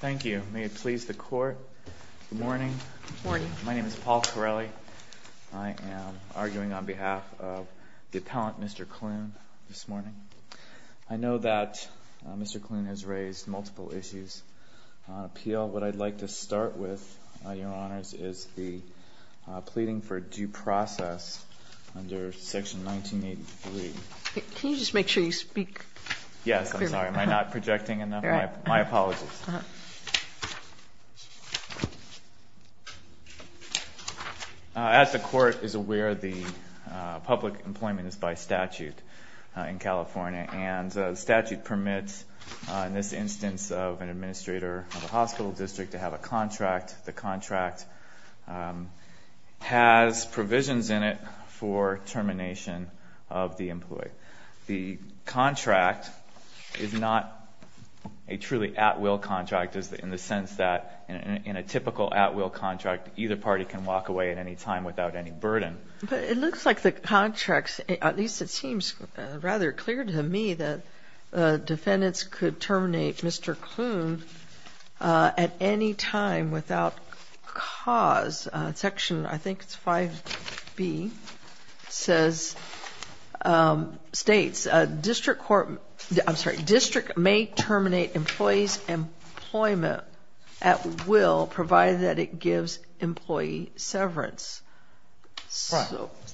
Thank you. May it please the Court. Good morning. Good morning. My name is Paul Corelli. I am arguing on behalf of the appellant, Mr. Klune, this morning. I know that Mr. Klune has raised multiple issues on appeal. What I'd like to start with, Your Honors, is the pleading for due process under Section 1983. Can you just make sure you speak clearly? I'm sorry. Am I not projecting enough? My apologies. As the Court is aware, the public employment is by statute in California, and the statute permits in this instance of an administrator of a hospital district to have a contract. The contract has provisions in it for termination of the employee. The contract is not a truly at-will contract in the sense that in a typical at-will contract, either party can walk away at any time without any burden. But it looks like the contract, at least it seems rather clear to me, that defendants could terminate Mr. Klune at any time without cause. Section, I think it's 5B, states district may terminate employees' employment at will provided that it gives employee severance.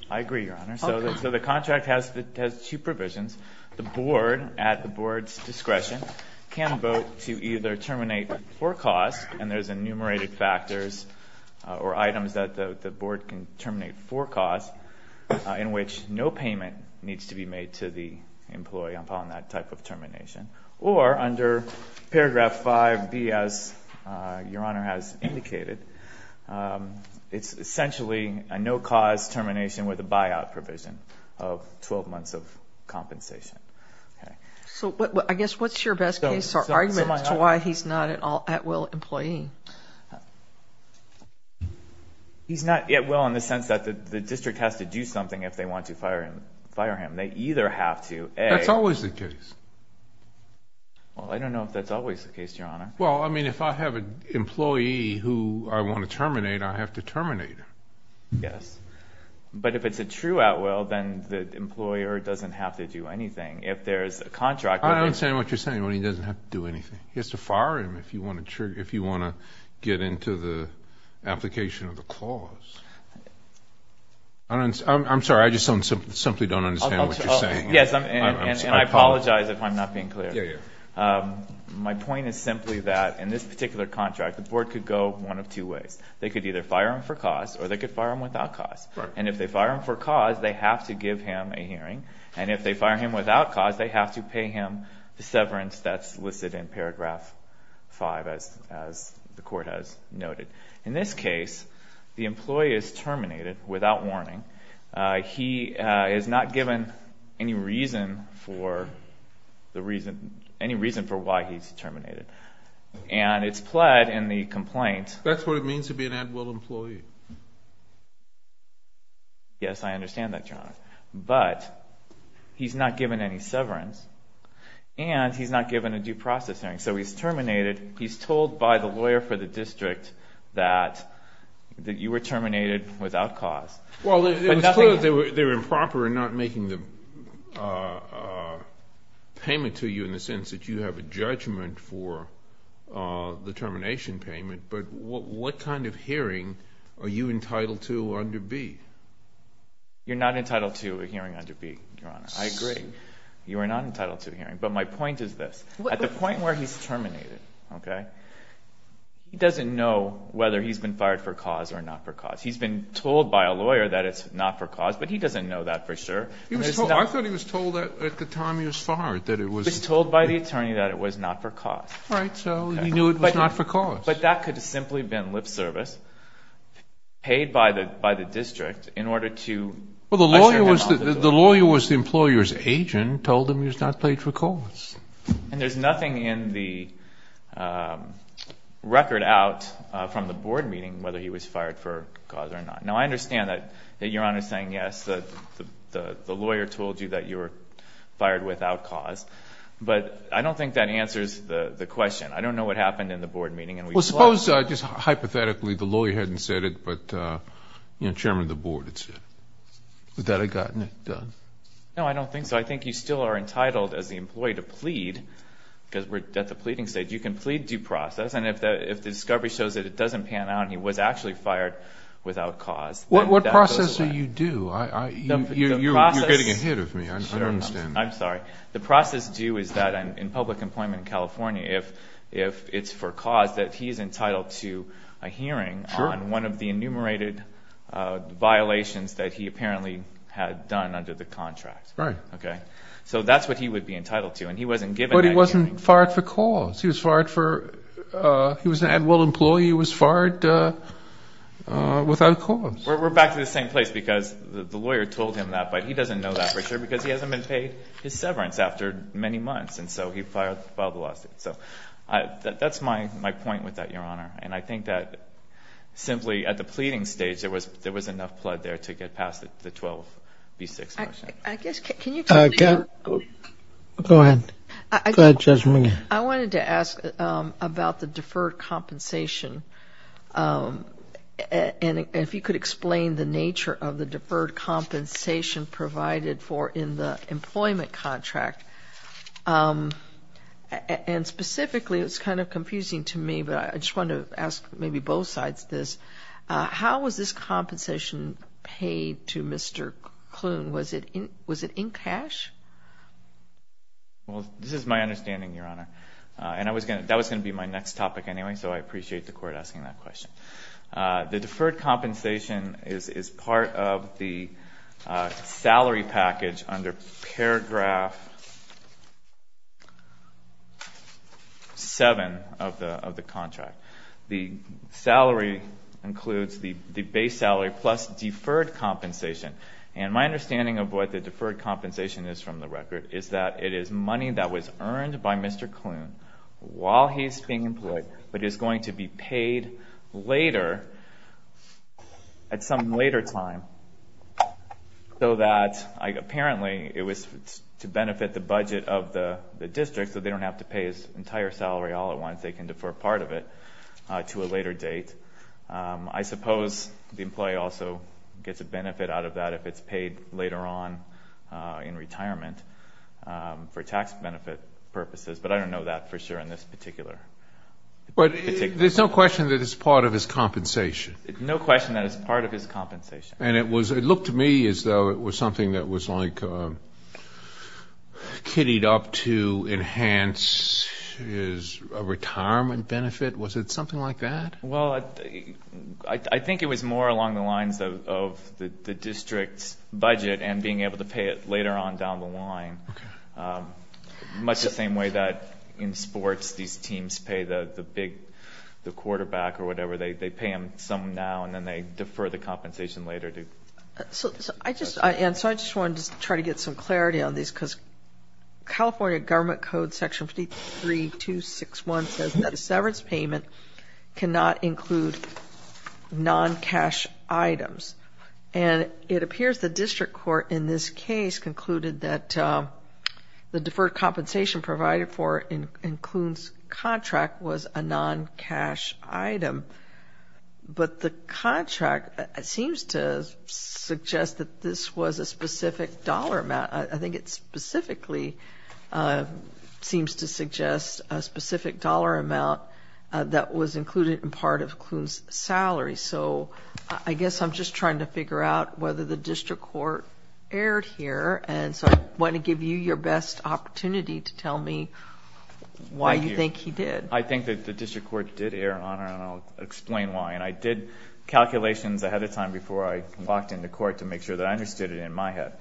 I agree, Your Honor. So the contract has two provisions. The board, at the board's discretion, can vote to either terminate for cause, and there's enumerated factors or items that the board can terminate for cause, in which no payment needs to be made to the employee upon that type of termination. Or under paragraph 5B, as Your Honor has indicated, it's essentially a no-cause termination with a buyout provision of 12 months of compensation. So I guess what's your best case or argument as to why he's not an at-will employee? He's not at-will in the sense that the district has to do something if they want to fire him. They either have to, A. That's always the case. Well, I don't know if that's always the case, Your Honor. Well, I mean, if I have an employee who I want to terminate, I have to terminate him. Yes. But if it's a true at-will, then the employer doesn't have to do anything. If there's a contract where he's going to do anything. I don't understand what you're saying when he doesn't have to do anything. He has to fire him if you want to get into the application of the clause. I'm sorry, I just simply don't understand what you're saying. Yes, and I apologize if I'm not being clear. My point is simply that in this particular contract, the board could go one of two ways. They could either fire him for cause or they could fire him without cause. And if they fire him for cause, they have to give him a hearing. And if they fire him without cause, they have to pay him the severance that's listed in paragraph 5, as the court has noted. In this case, the employee is terminated without warning. He is not given any reason for why he's terminated. And it's pled in the complaint. That's what it means to be an at-will employee. Yes, I understand that, Your Honor. But he's not given any severance and he's not given a due process hearing. So he's terminated. He's told by the lawyer for the district that you were terminated without cause. Well, it was clear they were improper in not making the payment to you in the sense that you have a judgment for the termination payment. But what kind of hearing are you entitled to under B? You're not entitled to a hearing under B, Your Honor. I agree. You are not entitled to a hearing. But my point is this. At the point where he's terminated, okay, he doesn't know whether he's been fired for cause or not for cause. He's been told by a lawyer that it's not for cause, but he doesn't know that for sure. I thought he was told at the time he was fired that it was not for cause. He was told by the attorney that it was not for cause. All right. So he knew it was not for cause. But that could have simply been lip service paid by the district in order to usher him out. Well, the lawyer was the employer's agent, told him he was not paid for cause. And there's nothing in the record out from the board meeting whether he was fired for cause or not. Now, I understand that Your Honor is saying, yes, the lawyer told you that you were fired without cause. But I don't think that answers the question. I don't know what happened in the board meeting. Well, suppose just hypothetically the lawyer hadn't said it, but, you know, chairman of the board had said it. Would that have gotten it done? No, I don't think so. I think you still are entitled as the employee to plead because we're at the pleading stage. You can plead due process. And if the discovery shows that it doesn't pan out and he was actually fired without cause, then that goes away. What process are you due? You're getting ahead of me. I don't understand that. I'm sorry. The process due is that in public employment in California, if it's for cause, that he's entitled to a hearing on one of the enumerated violations that he apparently had done under the contract. Right. Okay. So that's what he would be entitled to. And he wasn't given that hearing. But he wasn't fired for cause. He was fired for he was an Adwell employee who was fired without cause. We're back to the same place because the lawyer told him that, but he doesn't know that for sure because he hasn't been paid his severance after many months. And so he filed the lawsuit. So that's my point with that, Your Honor. And I think that simply at the pleading stage, there was enough blood there to get past the 12B6 motion. I guess can you tell me more? Go ahead. Go ahead, Judge McGinn. I wanted to ask about the deferred compensation. And if you could explain the nature of the deferred compensation provided for in the employment contract. And specifically, it's kind of confusing to me, but I just wanted to ask maybe both sides this. How was this compensation paid to Mr. Kloon? Was it in cash? Well, this is my understanding, Your Honor. That was going to be my next topic anyway, so I appreciate the court asking that question. The deferred compensation is part of the salary package under paragraph 7 of the contract. The salary includes the base salary plus deferred compensation. And my understanding of what the deferred compensation is from the record is that it is money that was earned by Mr. Kloon while he's being employed, but is going to be paid later at some later time so that apparently it was to benefit the budget of the district so they don't have to pay his entire salary all at once. They can defer part of it to a later date. I suppose the employee also gets a benefit out of that if it's paid later on in retirement for tax benefit purposes, but I don't know that for sure in this particular case. But there's no question that it's part of his compensation. No question that it's part of his compensation. And it looked to me as though it was something that was like kiddied up to enhance his retirement benefit. Was it something like that? Well, I think it was more along the lines of the district's budget and being able to pay it later on down the line, much the same way that in sports these teams pay the big quarterback or whatever. They pay him some now and then they defer the compensation later. So I just wanted to try to get some clarity on this because California Government Code Section 3261 says that a severance payment cannot include non-cash items. And it appears the district court in this case concluded that the deferred compensation provided for includes contract was a non-cash item. But the contract seems to suggest that this was a specific dollar amount. I think it specifically seems to suggest a specific dollar amount that was included in part of Kuhn's salary. So I guess I'm just trying to figure out whether the district court erred here. And so I want to give you your best opportunity to tell me why you think he did. I think that the district court did err on it, and I'll explain why. And I did calculations ahead of time before I walked into court to make sure that I understood it in my head.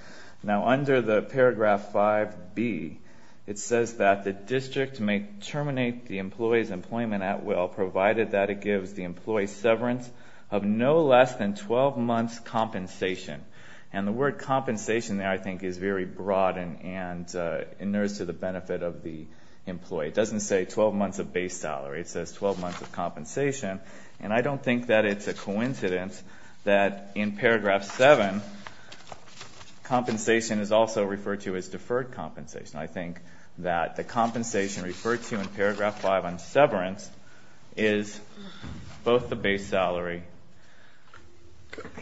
Now under the paragraph 5B, it says that the district may terminate the employee's employment at will provided that it gives the employee severance of no less than 12 months' compensation. And the word compensation there I think is very broad and inures to the benefit of the employee. It doesn't say 12 months of base salary. It says 12 months of compensation. And I don't think that it's a coincidence that in paragraph 7, compensation is also referred to as deferred compensation. I think that the compensation referred to in paragraph 5 on severance is both the base salary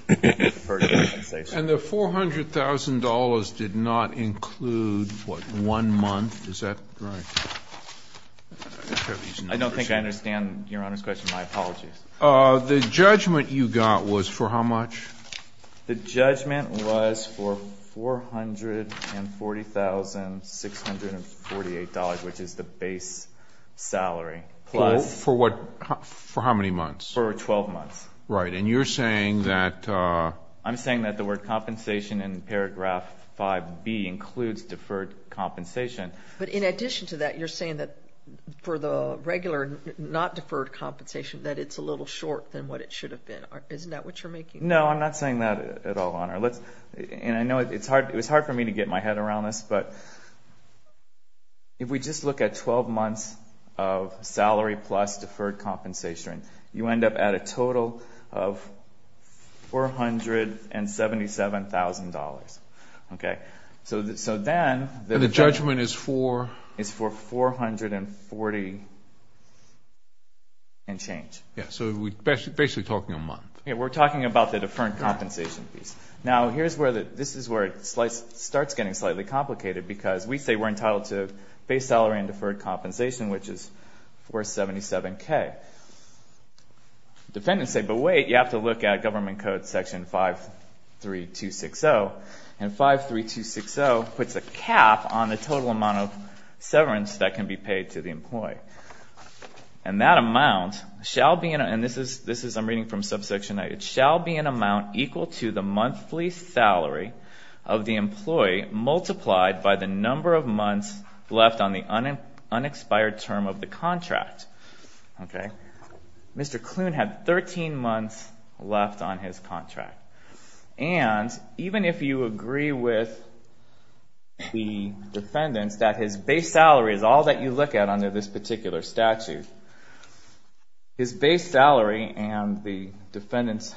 and deferred compensation. And the $400,000 did not include, what, one month? Is that right? I don't think I understand Your Honor's question. My apologies. The judgment you got was for how much? The judgment was for $440,648, which is the base salary, plus ---- For what? For how many months? For 12 months. Right. And you're saying that ---- I'm saying that the word compensation in paragraph 5B includes deferred compensation. But in addition to that, you're saying that for the regular, not deferred compensation, that it's a little short than what it should have been. Isn't that what you're making? No, I'm not saying that at all, Your Honor. And I know it's hard for me to get my head around this, but if we just look at 12 months of salary plus deferred compensation, you end up at a total of $477,000. Okay? So then ---- And the judgment is for? It's for $440,000 and change. Yeah, so we're basically talking a month. Yeah, we're talking about the deferred compensation piece. Now, this is where it starts getting slightly complicated because we say we're entitled to base salary and deferred compensation, which is $477,000. Okay. Defendants say, but wait, you have to look at Government Code Section 53260. And 53260 puts a cap on the total amount of severance that can be paid to the employee. And that amount shall be in a ---- and this is ---- I'm reading from subsection 8. It shall be an amount equal to the monthly salary of the employee multiplied by the number of months left on the unexpired term of the contract. Okay. Mr. Klune had 13 months left on his contract. And even if you agree with the defendants that his base salary is all that you look at under this particular statute, his base salary, and the defendants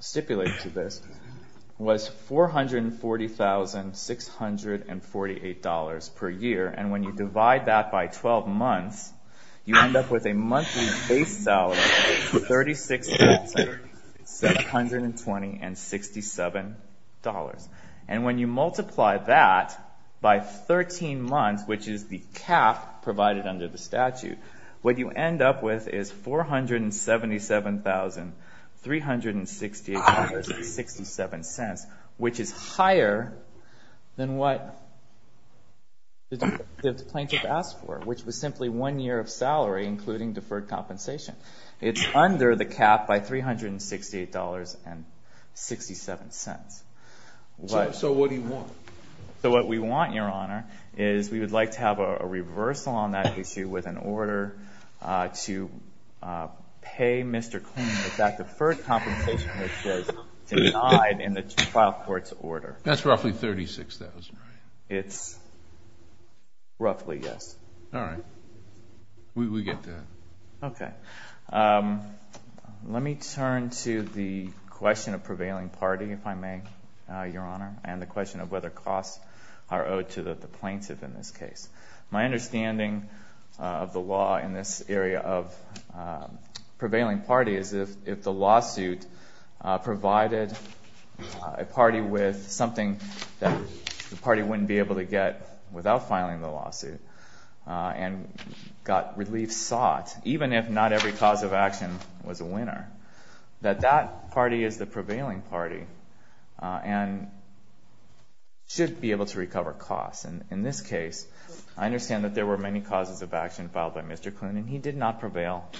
stipulate to this, was $440,648 per year. And when you divide that by 12 months, you end up with a monthly base salary of $36,720.67. And when you multiply that by 13 months, which is the cap provided under the statute, what you end up with is $477,368.67, which is higher than what the plaintiff asked for, which was simply one year of salary, including deferred compensation. It's under the cap by $368.67. So what do you want? So what we want, Your Honor, is we would like to have a reversal on that issue with an order to pay Mr. Klune with that deferred compensation, which was denied in the trial court's order. That's roughly $36,000, right? It's roughly, yes. All right. We get that. Okay. Let me turn to the question of prevailing party, if I may, Your Honor, and the question of whether costs are owed to the plaintiff in this case. My understanding of the law in this area of prevailing party is if the lawsuit provided a party with something that the party wouldn't be able to get without filing the lawsuit and got relief sought, even if not every cause of action was a winner, that that party is the prevailing party and should be able to recover costs. And in this case, I understand that there were many causes of action filed by Mr. Klune, and he did not prevail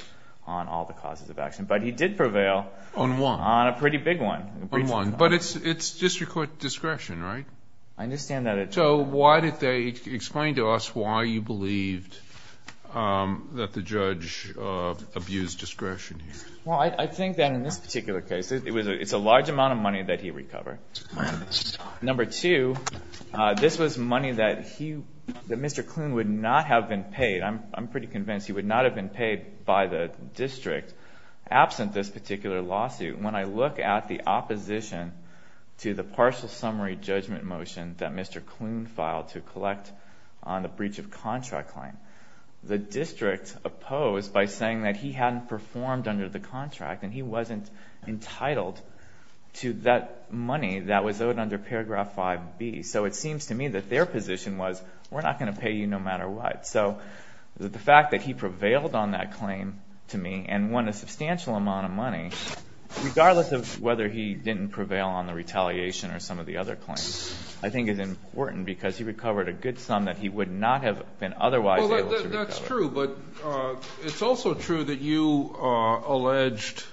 on all the causes of action, but he did prevail on one, on a pretty big one. But it's district court discretion, right? I understand that. So why did they explain to us why you believed that the judge abused discretion here? Well, I think that in this particular case, it's a large amount of money that he recovered. Number two, this was money that Mr. Klune would not have been paid. I'm pretty convinced he would not have been paid by the district absent this particular lawsuit. When I look at the opposition to the partial summary judgment motion that Mr. Klune filed to collect on the breach of contract claim, the district opposed by saying that he hadn't performed under the contract and he wasn't entitled to that money that was owed under paragraph 5B. So it seems to me that their position was, we're not going to pay you no matter what. So the fact that he prevailed on that claim to me and won a substantial amount of money, regardless of whether he didn't prevail on the retaliation or some of the other claims, I think is important because he recovered a good sum that he would not have been otherwise able to recover. That's true, but it's also true that you alleged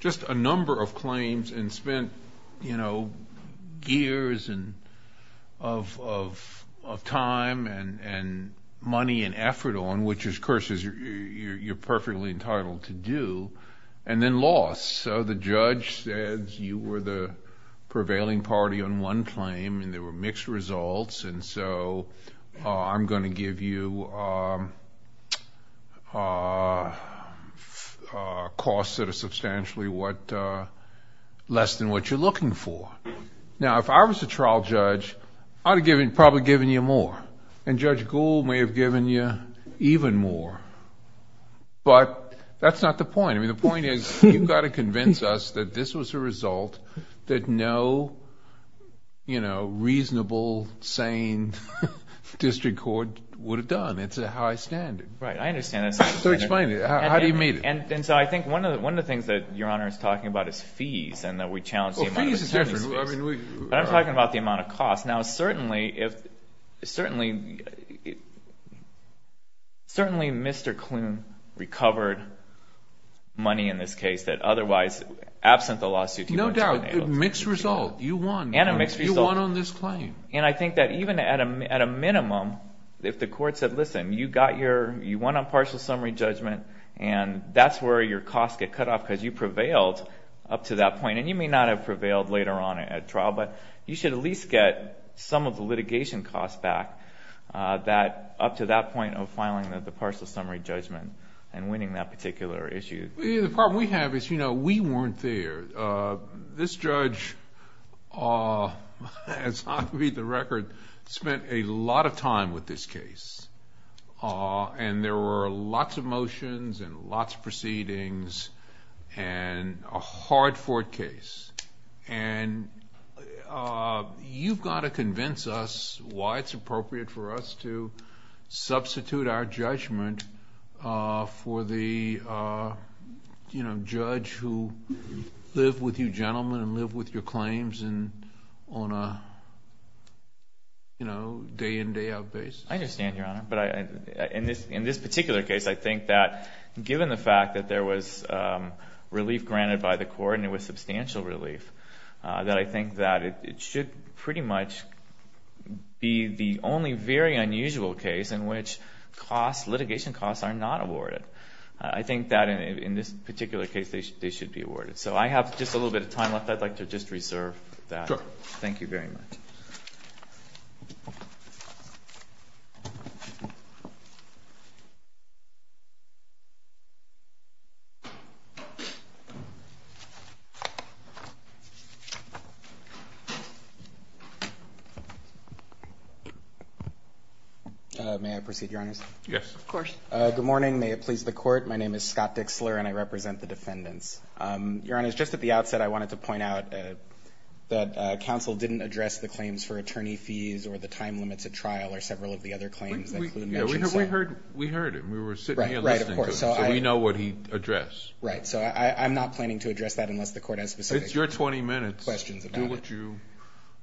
just a number of claims and spent, you know, years of time and money and effort on, which, of course, you're perfectly entitled to do, and then lost. So the judge said you were the prevailing party on one claim and there were mixed results, and so I'm going to give you costs that are substantially less than what you're looking for. Now, if I was a trial judge, I would have probably given you more, and Judge Gould may have given you even more. But that's not the point. I mean, the point is you've got to convince us that this was a result that no, you know, reasonable, sane district court would have done. It's a high standard. Right, I understand that. So explain it. How do you meet it? And so I think one of the things that Your Honor is talking about is fees and that we challenge the amount of attorney's fees. Well, fees is different. But I'm talking about the amount of costs. Now, certainly Mr. Klune recovered money in this case that otherwise, absent the lawsuit, he wouldn't have been able to. No doubt, mixed result. You won. And a mixed result. You won on this claim. And I think that even at a minimum, if the court said, listen, you won on partial summary judgment and that's where your costs get cut off because you prevailed up to that point. And you may not have prevailed later on at trial. But you should at least get some of the litigation costs back that up to that point of filing the partial summary judgment and winning that particular issue. The problem we have is, you know, we weren't there. This judge, as I read the record, spent a lot of time with this case. And there were lots of motions and lots of proceedings and a hard-fought case. And you've got to convince us why it's appropriate for us to substitute our judgment for the, you know, judge who lived with you gentlemen and lived with your claims on a, you know, day-in, day-out basis. I understand, Your Honor. But in this particular case, I think that given the fact that there was relief granted by the court and it was substantial relief, that I think that it should pretty much be the only very unusual case in which litigation costs are not awarded. I think that in this particular case, they should be awarded. So I have just a little bit of time left. I'd like to just reserve that. Sure. Thank you very much. May I proceed, Your Honors? Yes. Of course. Good morning. May it please the Court. My name is Scott Dixler and I represent the defendants. Your Honors, just at the outset, I wanted to point out that counsel didn't address the claims for attorney fees or the time limits at trial or several of the other claims. We heard it. We were sitting here listening to it. Right, of course. So we know what he addressed. Right. So I'm not planning to address that unless the Court has specific questions about it. It's your 20 minutes. Do what you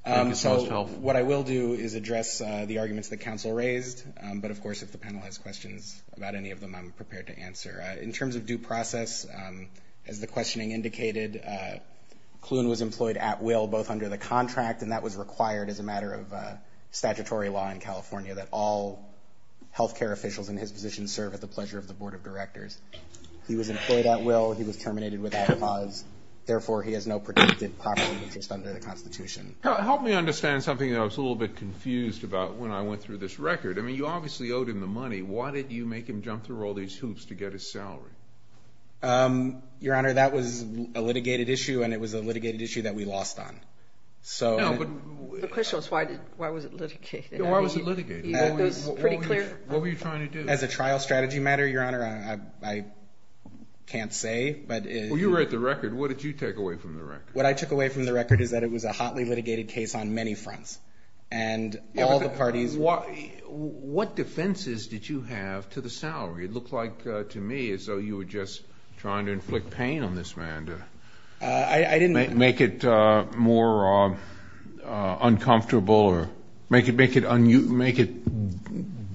think is most helpful. So what I will do is address the arguments that counsel raised. But, of course, if the panel has questions about any of them, I'm prepared to answer. In terms of due process, as the questioning indicated, Kloon was employed at will both under the contract and that was required as a matter of statutory law in California, that all health care officials in his position serve at the pleasure of the Board of Directors. He was employed at will. He was terminated without cause. Therefore, he has no protected property interest under the Constitution. Help me understand something that I was a little bit confused about when I went through this record. I mean, you obviously owed him the money. Why did you make him jump through all these hoops to get his salary? Your Honor, that was a litigated issue, and it was a litigated issue that we lost on. No, but the question was why was it litigated. Why was it litigated? It was pretty clear. What were you trying to do? As a trial strategy matter, Your Honor, I can't say. Well, you wrote the record. What did you take away from the record? What I took away from the record is that it was a hotly litigated case on many fronts. And all the parties. What defenses did you have to the salary? It looked like to me as though you were just trying to inflict pain on this man to make it more uncomfortable or make it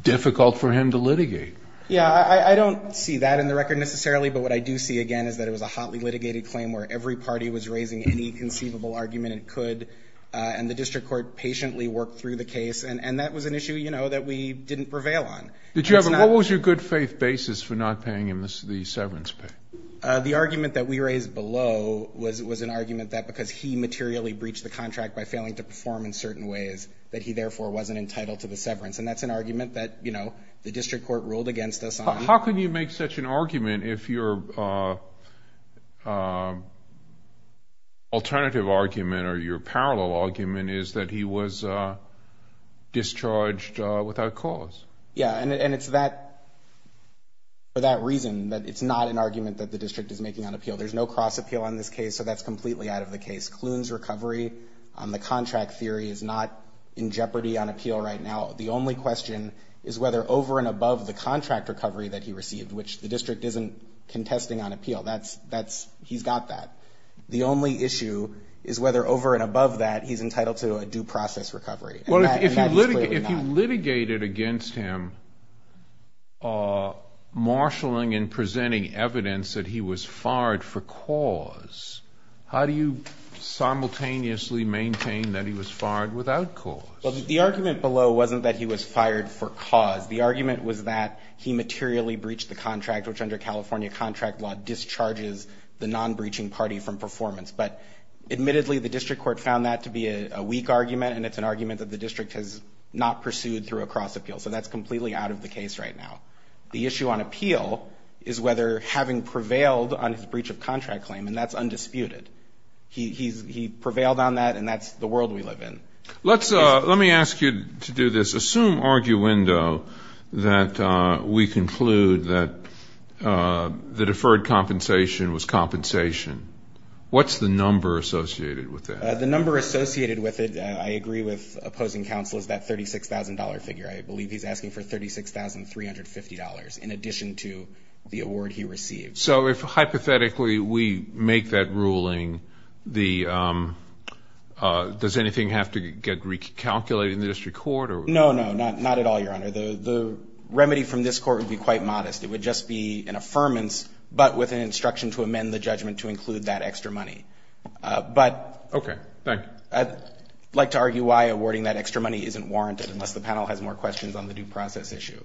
difficult for him to litigate. Yeah, I don't see that in the record necessarily, but what I do see, again, is that it was a hotly litigated claim where every party was raising any conceivable argument it could, and the district court patiently worked through the case. And that was an issue, you know, that we didn't prevail on. What was your good faith basis for not paying him the severance pay? The argument that we raised below was an argument that because he materially breached the contract by failing to perform in certain ways, that he therefore wasn't entitled to the severance. And that's an argument that, you know, the district court ruled against us on. How can you make such an argument if your alternative argument or your parallel argument is that he was discharged without cause? Yeah, and it's for that reason that it's not an argument that the district is making on appeal. There's no cross appeal on this case, so that's completely out of the case. Kloon's recovery on the contract theory is not in jeopardy on appeal right now. The only question is whether over and above the contract recovery that he received, which the district isn't contesting on appeal. He's got that. The only issue is whether over and above that he's entitled to a due process recovery. And that is clearly not. Well, if you litigated against him marshaling and presenting evidence that he was fired for cause, how do you simultaneously maintain that he was fired without cause? Well, the argument below wasn't that he was fired for cause. The argument was that he materially breached the contract, which under California contract law discharges the non-breaching party from performance. But admittedly, the district court found that to be a weak argument, and it's an argument that the district has not pursued through a cross appeal. So that's completely out of the case right now. The issue on appeal is whether having prevailed on his breach of contract claim, and that's undisputed. He prevailed on that, and that's the world we live in. Let me ask you to do this. Assume, arguendo, that we conclude that the deferred compensation was compensation. What's the number associated with that? The number associated with it, I agree with opposing counsel, is that $36,000 figure. I believe he's asking for $36,350 in addition to the award he received. So if hypothetically we make that ruling, does anything have to get recalculated in the district court? No, no, not at all, Your Honor. The remedy from this court would be quite modest. It would just be an affirmance, but with an instruction to amend the judgment to include that extra money. But I'd like to argue why awarding that extra money isn't warranted, unless the panel has more questions on the due process issue.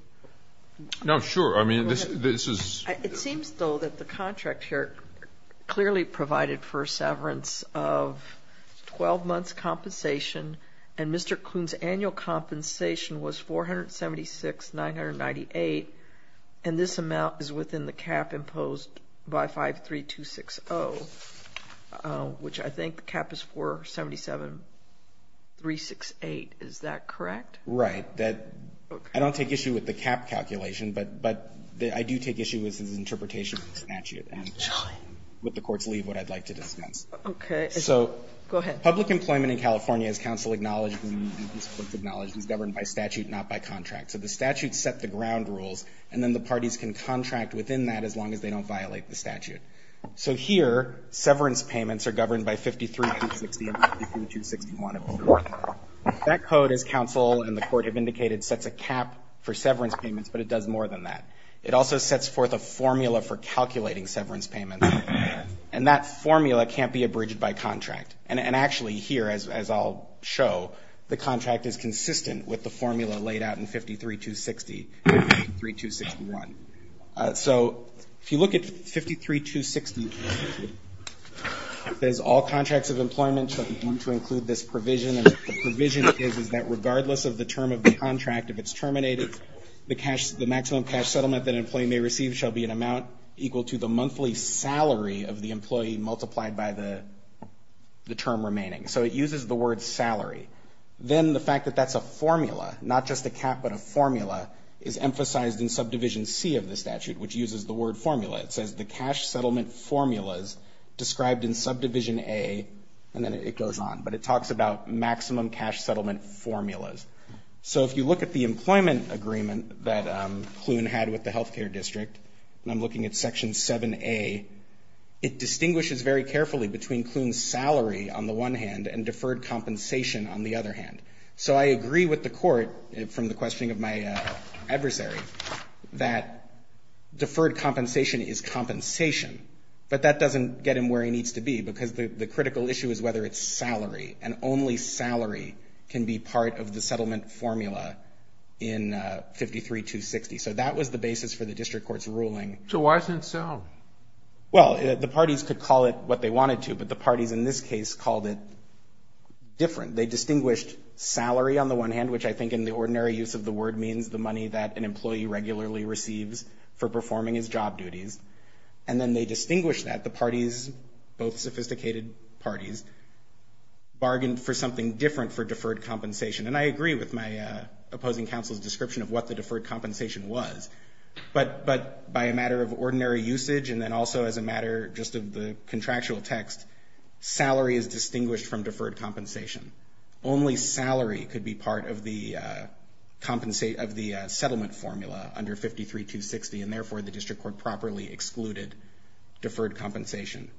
No, sure. I mean, this is It seems, though, that the contract here clearly provided for severance of 12 months' compensation, and Mr. Kuhn's annual compensation was $476,998, and this amount is within the cap imposed by 53260, which I think the cap is 477,368. Is that correct? Right. I don't take issue with the cap calculation, but I do take issue with his interpretation of the statute. And with the Court's leave, what I'd like to dismiss. Okay. Go ahead. So public employment in California, as counsel acknowledged and these courts acknowledged, is governed by statute, not by contract. So the statute set the ground rules, and then the parties can contract within that as long as they don't violate the statute. So here, severance payments are governed by 53260 and 53261 of the court. That code, as counsel and the court have indicated, sets a cap for severance payments, but it does more than that. It also sets forth a formula for calculating severance payments, and that formula can't be abridged by contract. And actually here, as I'll show, the contract is consistent with the formula laid out in 53260 and 53261. So if you look at 53260, it says, All contracts of employment shall be bound to include this provision, and the provision is that regardless of the term of the contract, if it's terminated, the maximum cash settlement that an employee may receive shall be an amount equal to the monthly salary of the employee multiplied by the term remaining. So it uses the word salary. Then the fact that that's a formula, not just a cap but a formula, is emphasized in Subdivision C of the statute, which uses the word formula. It says the cash settlement formulas described in Subdivision A, and then it goes on. But it talks about maximum cash settlement formulas. So if you look at the employment agreement that Kloon had with the health care district, and I'm looking at Section 7A, it distinguishes very carefully between Kloon's salary on the one hand and deferred compensation on the other hand. So I agree with the Court, from the questioning of my adversary, that deferred compensation is compensation, but that doesn't get him where he needs to be, because the critical issue is whether it's salary, and only salary can be part of the settlement formula in 53260. So that was the basis for the district court's ruling. So why isn't it salary? Well, the parties could call it what they wanted to, but the parties in this case called it different. They distinguished salary on the one hand, which I think in the ordinary use of the word means the money that an employee regularly receives for performing his job duties, and then they distinguished that, the parties, both sophisticated parties, bargained for something different for deferred compensation. And I agree with my opposing counsel's description of what the deferred compensation was, but by a matter of ordinary usage and then also as a matter just of the contractual text, salary is distinguished from deferred compensation. Only salary could be part of the settlement formula under 53260, and therefore the district court properly excluded deferred compensation.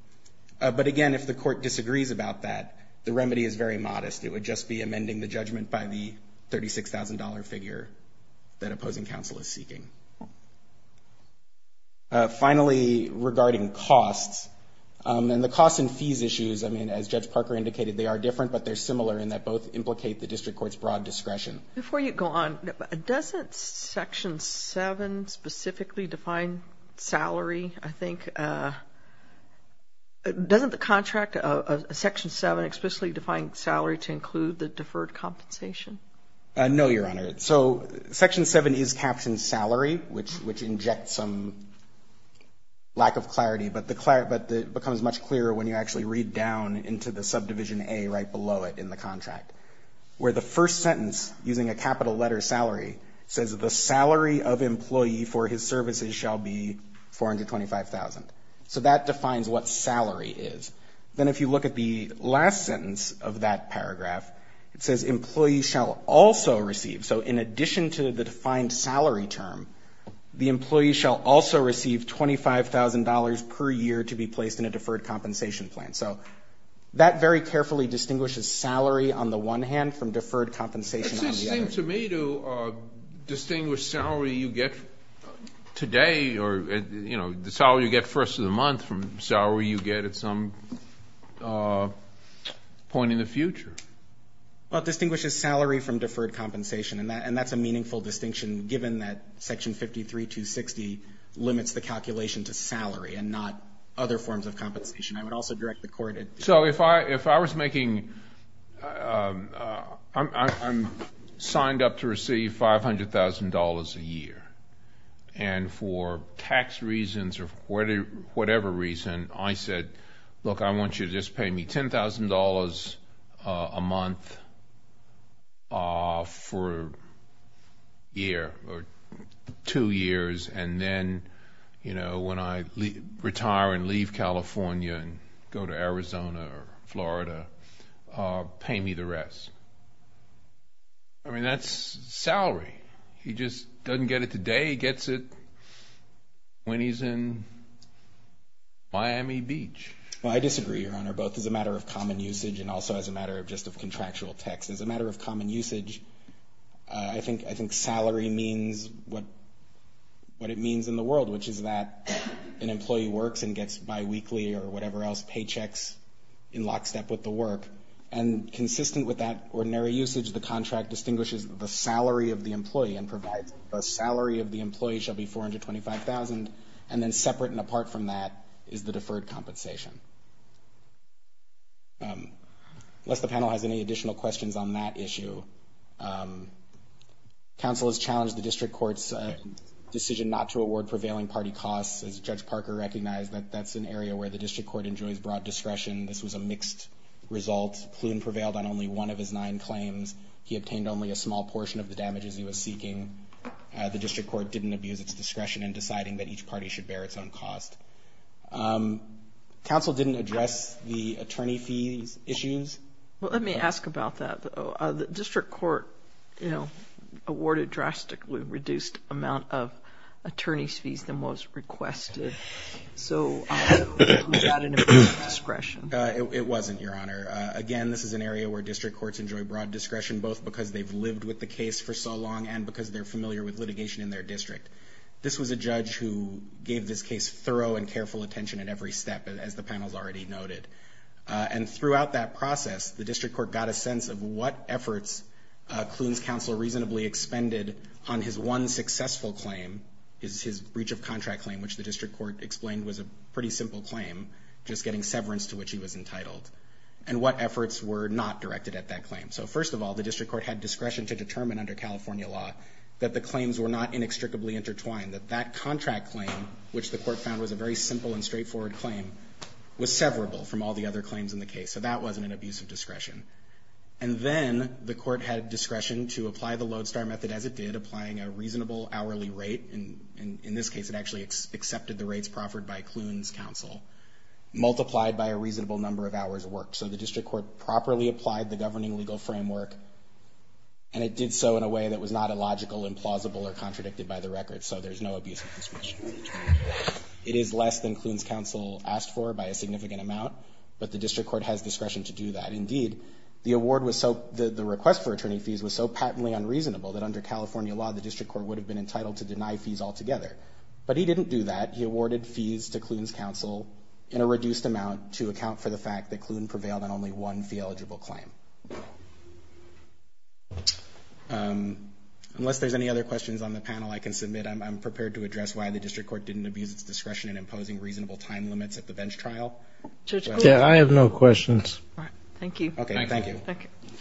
But again, if the Court disagrees about that, the remedy is very modest. It would just be amending the judgment by the $36,000 figure that opposing counsel is seeking. Finally, regarding costs. And the costs and fees issues, I mean, as Judge Parker indicated, they are different, but they're similar in that both implicate the district court's broad discretion. Before you go on, doesn't Section 7 specifically define salary, I think? Doesn't the contract of Section 7 explicitly define salary to include the deferred compensation? No, Your Honor. So Section 7 is captioned salary, which injects some lack of clarity, but it becomes much clearer when you actually read down into the subdivision A right below it in the contract, where the first sentence, using a capital letter salary, says the salary of employee for his services shall be $425,000. So that defines what salary is. Then if you look at the last sentence of that paragraph, it says employee shall also receive. So in addition to the defined salary term, the employee shall also receive $25,000 per year to be placed in a deferred compensation plan. So that very carefully distinguishes salary on the one hand from deferred compensation on the other. It seems to me to distinguish salary you get today or, you know, the salary you get first of the month from salary you get at some point in the future. Well, it distinguishes salary from deferred compensation, and that's a meaningful distinction given that Section 53-260 limits the calculation to salary and not other forms of compensation. I would also direct the Court. So if I was making I'm signed up to receive $500,000 a year, and for tax reasons or for whatever reason I said, look, I want you to just pay me $10,000 a month for a year or two years, and then, you know, when I retire and leave California and go to Arizona or Florida, pay me the rest. I mean, that's salary. He just doesn't get it today. He gets it when he's in Miami Beach. Well, I disagree, Your Honor, both as a matter of common usage and also as a matter of just of contractual text. As a matter of common usage, I think salary means what it means in the world, which is that an employee works and gets biweekly or whatever else, paychecks in lockstep with the work, and consistent with that ordinary usage, the contract distinguishes the salary of the employee and provides the salary of the employee shall be $425,000, and then separate and apart from that is the deferred compensation. Unless the panel has any additional questions on that issue, counsel has challenged the district court's decision not to award prevailing party costs. As Judge Parker recognized, that's an area where the district court enjoys broad discretion. This was a mixed result. Ploon prevailed on only one of his nine claims. He obtained only a small portion of the damages he was seeking. The district court didn't abuse its discretion in deciding that each party should bear its own cost. Counsel didn't address the attorney fees issues. Well, let me ask about that, though. The district court, you know, awarded drastically reduced amount of attorney's fees than was requested. So was that an abuse of discretion? It wasn't, Your Honor. Again, this is an area where district courts enjoy broad discretion, both because they've lived with the case for so long and because they're familiar with litigation in their district. This was a judge who gave this case thorough and careful attention at every step, as the panel's already noted. And throughout that process, the district court got a sense of what efforts Ploon's counsel reasonably expended on his one successful claim, his breach of contract claim, which the district court explained was a pretty simple claim, just getting severance to which he was entitled, and what efforts were not directed at that claim. So first of all, the district court had discretion to determine under California law that the claims were not inextricably intertwined, that that contract claim, which the court found was a very simple and straightforward claim, was severable from all the other claims in the case. So that wasn't an abuse of discretion. And then the court had discretion to apply the lodestar method as it did, applying a reasonable hourly rate, and in this case it actually accepted the rates proffered by Ploon's counsel, multiplied by a reasonable number of hours worked. So the district court properly applied the governing legal framework, and it did so in a way that was not illogical, implausible, or contradicted by the record, so there's no abuse of discretion. It is less than Ploon's counsel asked for by a significant amount, but the district court has discretion to do that. Indeed, the award was so, the request for attorney fees was so patently unreasonable that under California law the district court would have been entitled to deny fees altogether. But he didn't do that. He awarded fees to Ploon's counsel in a reduced amount to account for the fact that Ploon prevailed on only one fee-eligible claim. Unless there's any other questions on the panel I can submit, I'm prepared to address why the district court didn't abuse its discretion in imposing reasonable time limits at the bench trial. Yeah, I have no questions. All right. Thank you. Okay, thank you. Thank you.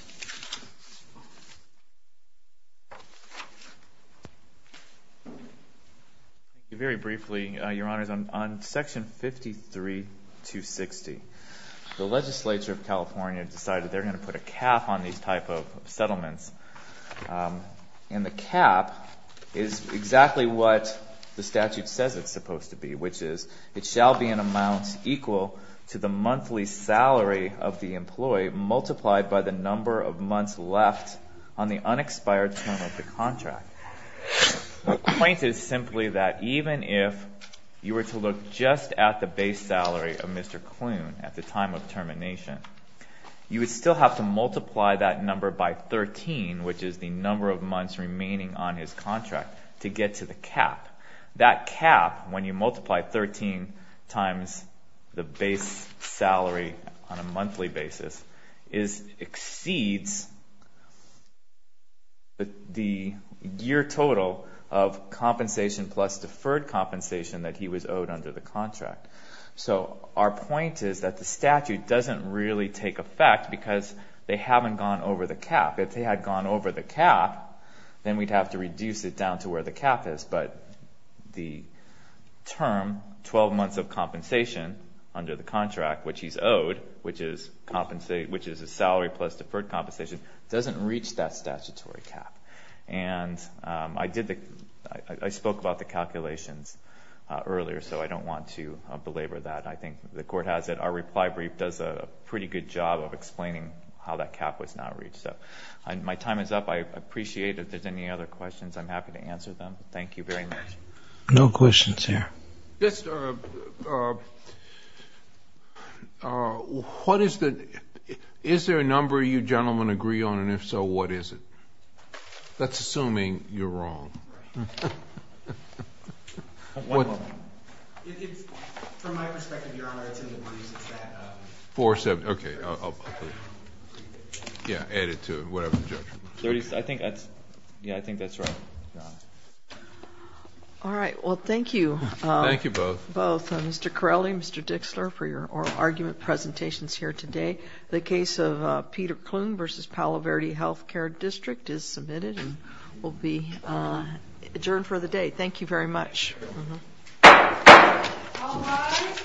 Very briefly, Your Honors, on Section 53-260, the legislature of California decided they're going to put a cap on these type of settlements. And the cap is exactly what the statute says it's supposed to be, which is it shall be an amount equal to the monthly salary of the employee multiplied by the number of months left on the unexpired term of the contract. The point is simply that even if you were to look just at the base salary of Mr. Ploon at the time of termination, you would still have to multiply that number by 13, which is the number of months remaining on his contract, to get to the cap. That cap, when you multiply 13 times the base salary on a monthly basis, exceeds the year total of compensation plus deferred compensation that he was owed under the contract. So our point is that the statute doesn't really take effect because they haven't gone over the cap. If they had gone over the cap, then we'd have to reduce it down to where the cap is. But the term, 12 months of compensation under the contract, which he's owed, which is a salary plus deferred compensation, doesn't reach that statutory cap. And I spoke about the calculations earlier, so I don't want to belabor that. I think the Court has it. Our reply brief does a pretty good job of explaining how that cap was not reached. My time is up. I appreciate it. If there's any other questions, I'm happy to answer them. Thank you very much. No questions here. Is there a number you gentlemen agree on? And if so, what is it? That's assuming you're wrong. Right. From my perspective, Your Honor, it's in the briefs. It's that 470. Okay. Yeah, add it to it, whatever, Judge. Yeah, I think that's right. All right. Well, thank you. Thank you both. Both. Mr. Corelli, Mr. Dixler, for your oral argument presentations here today. The case of Peter Klune v. Palo Verde Health Care District is submitted and will be adjourned for the day. Thank you very much. All rise.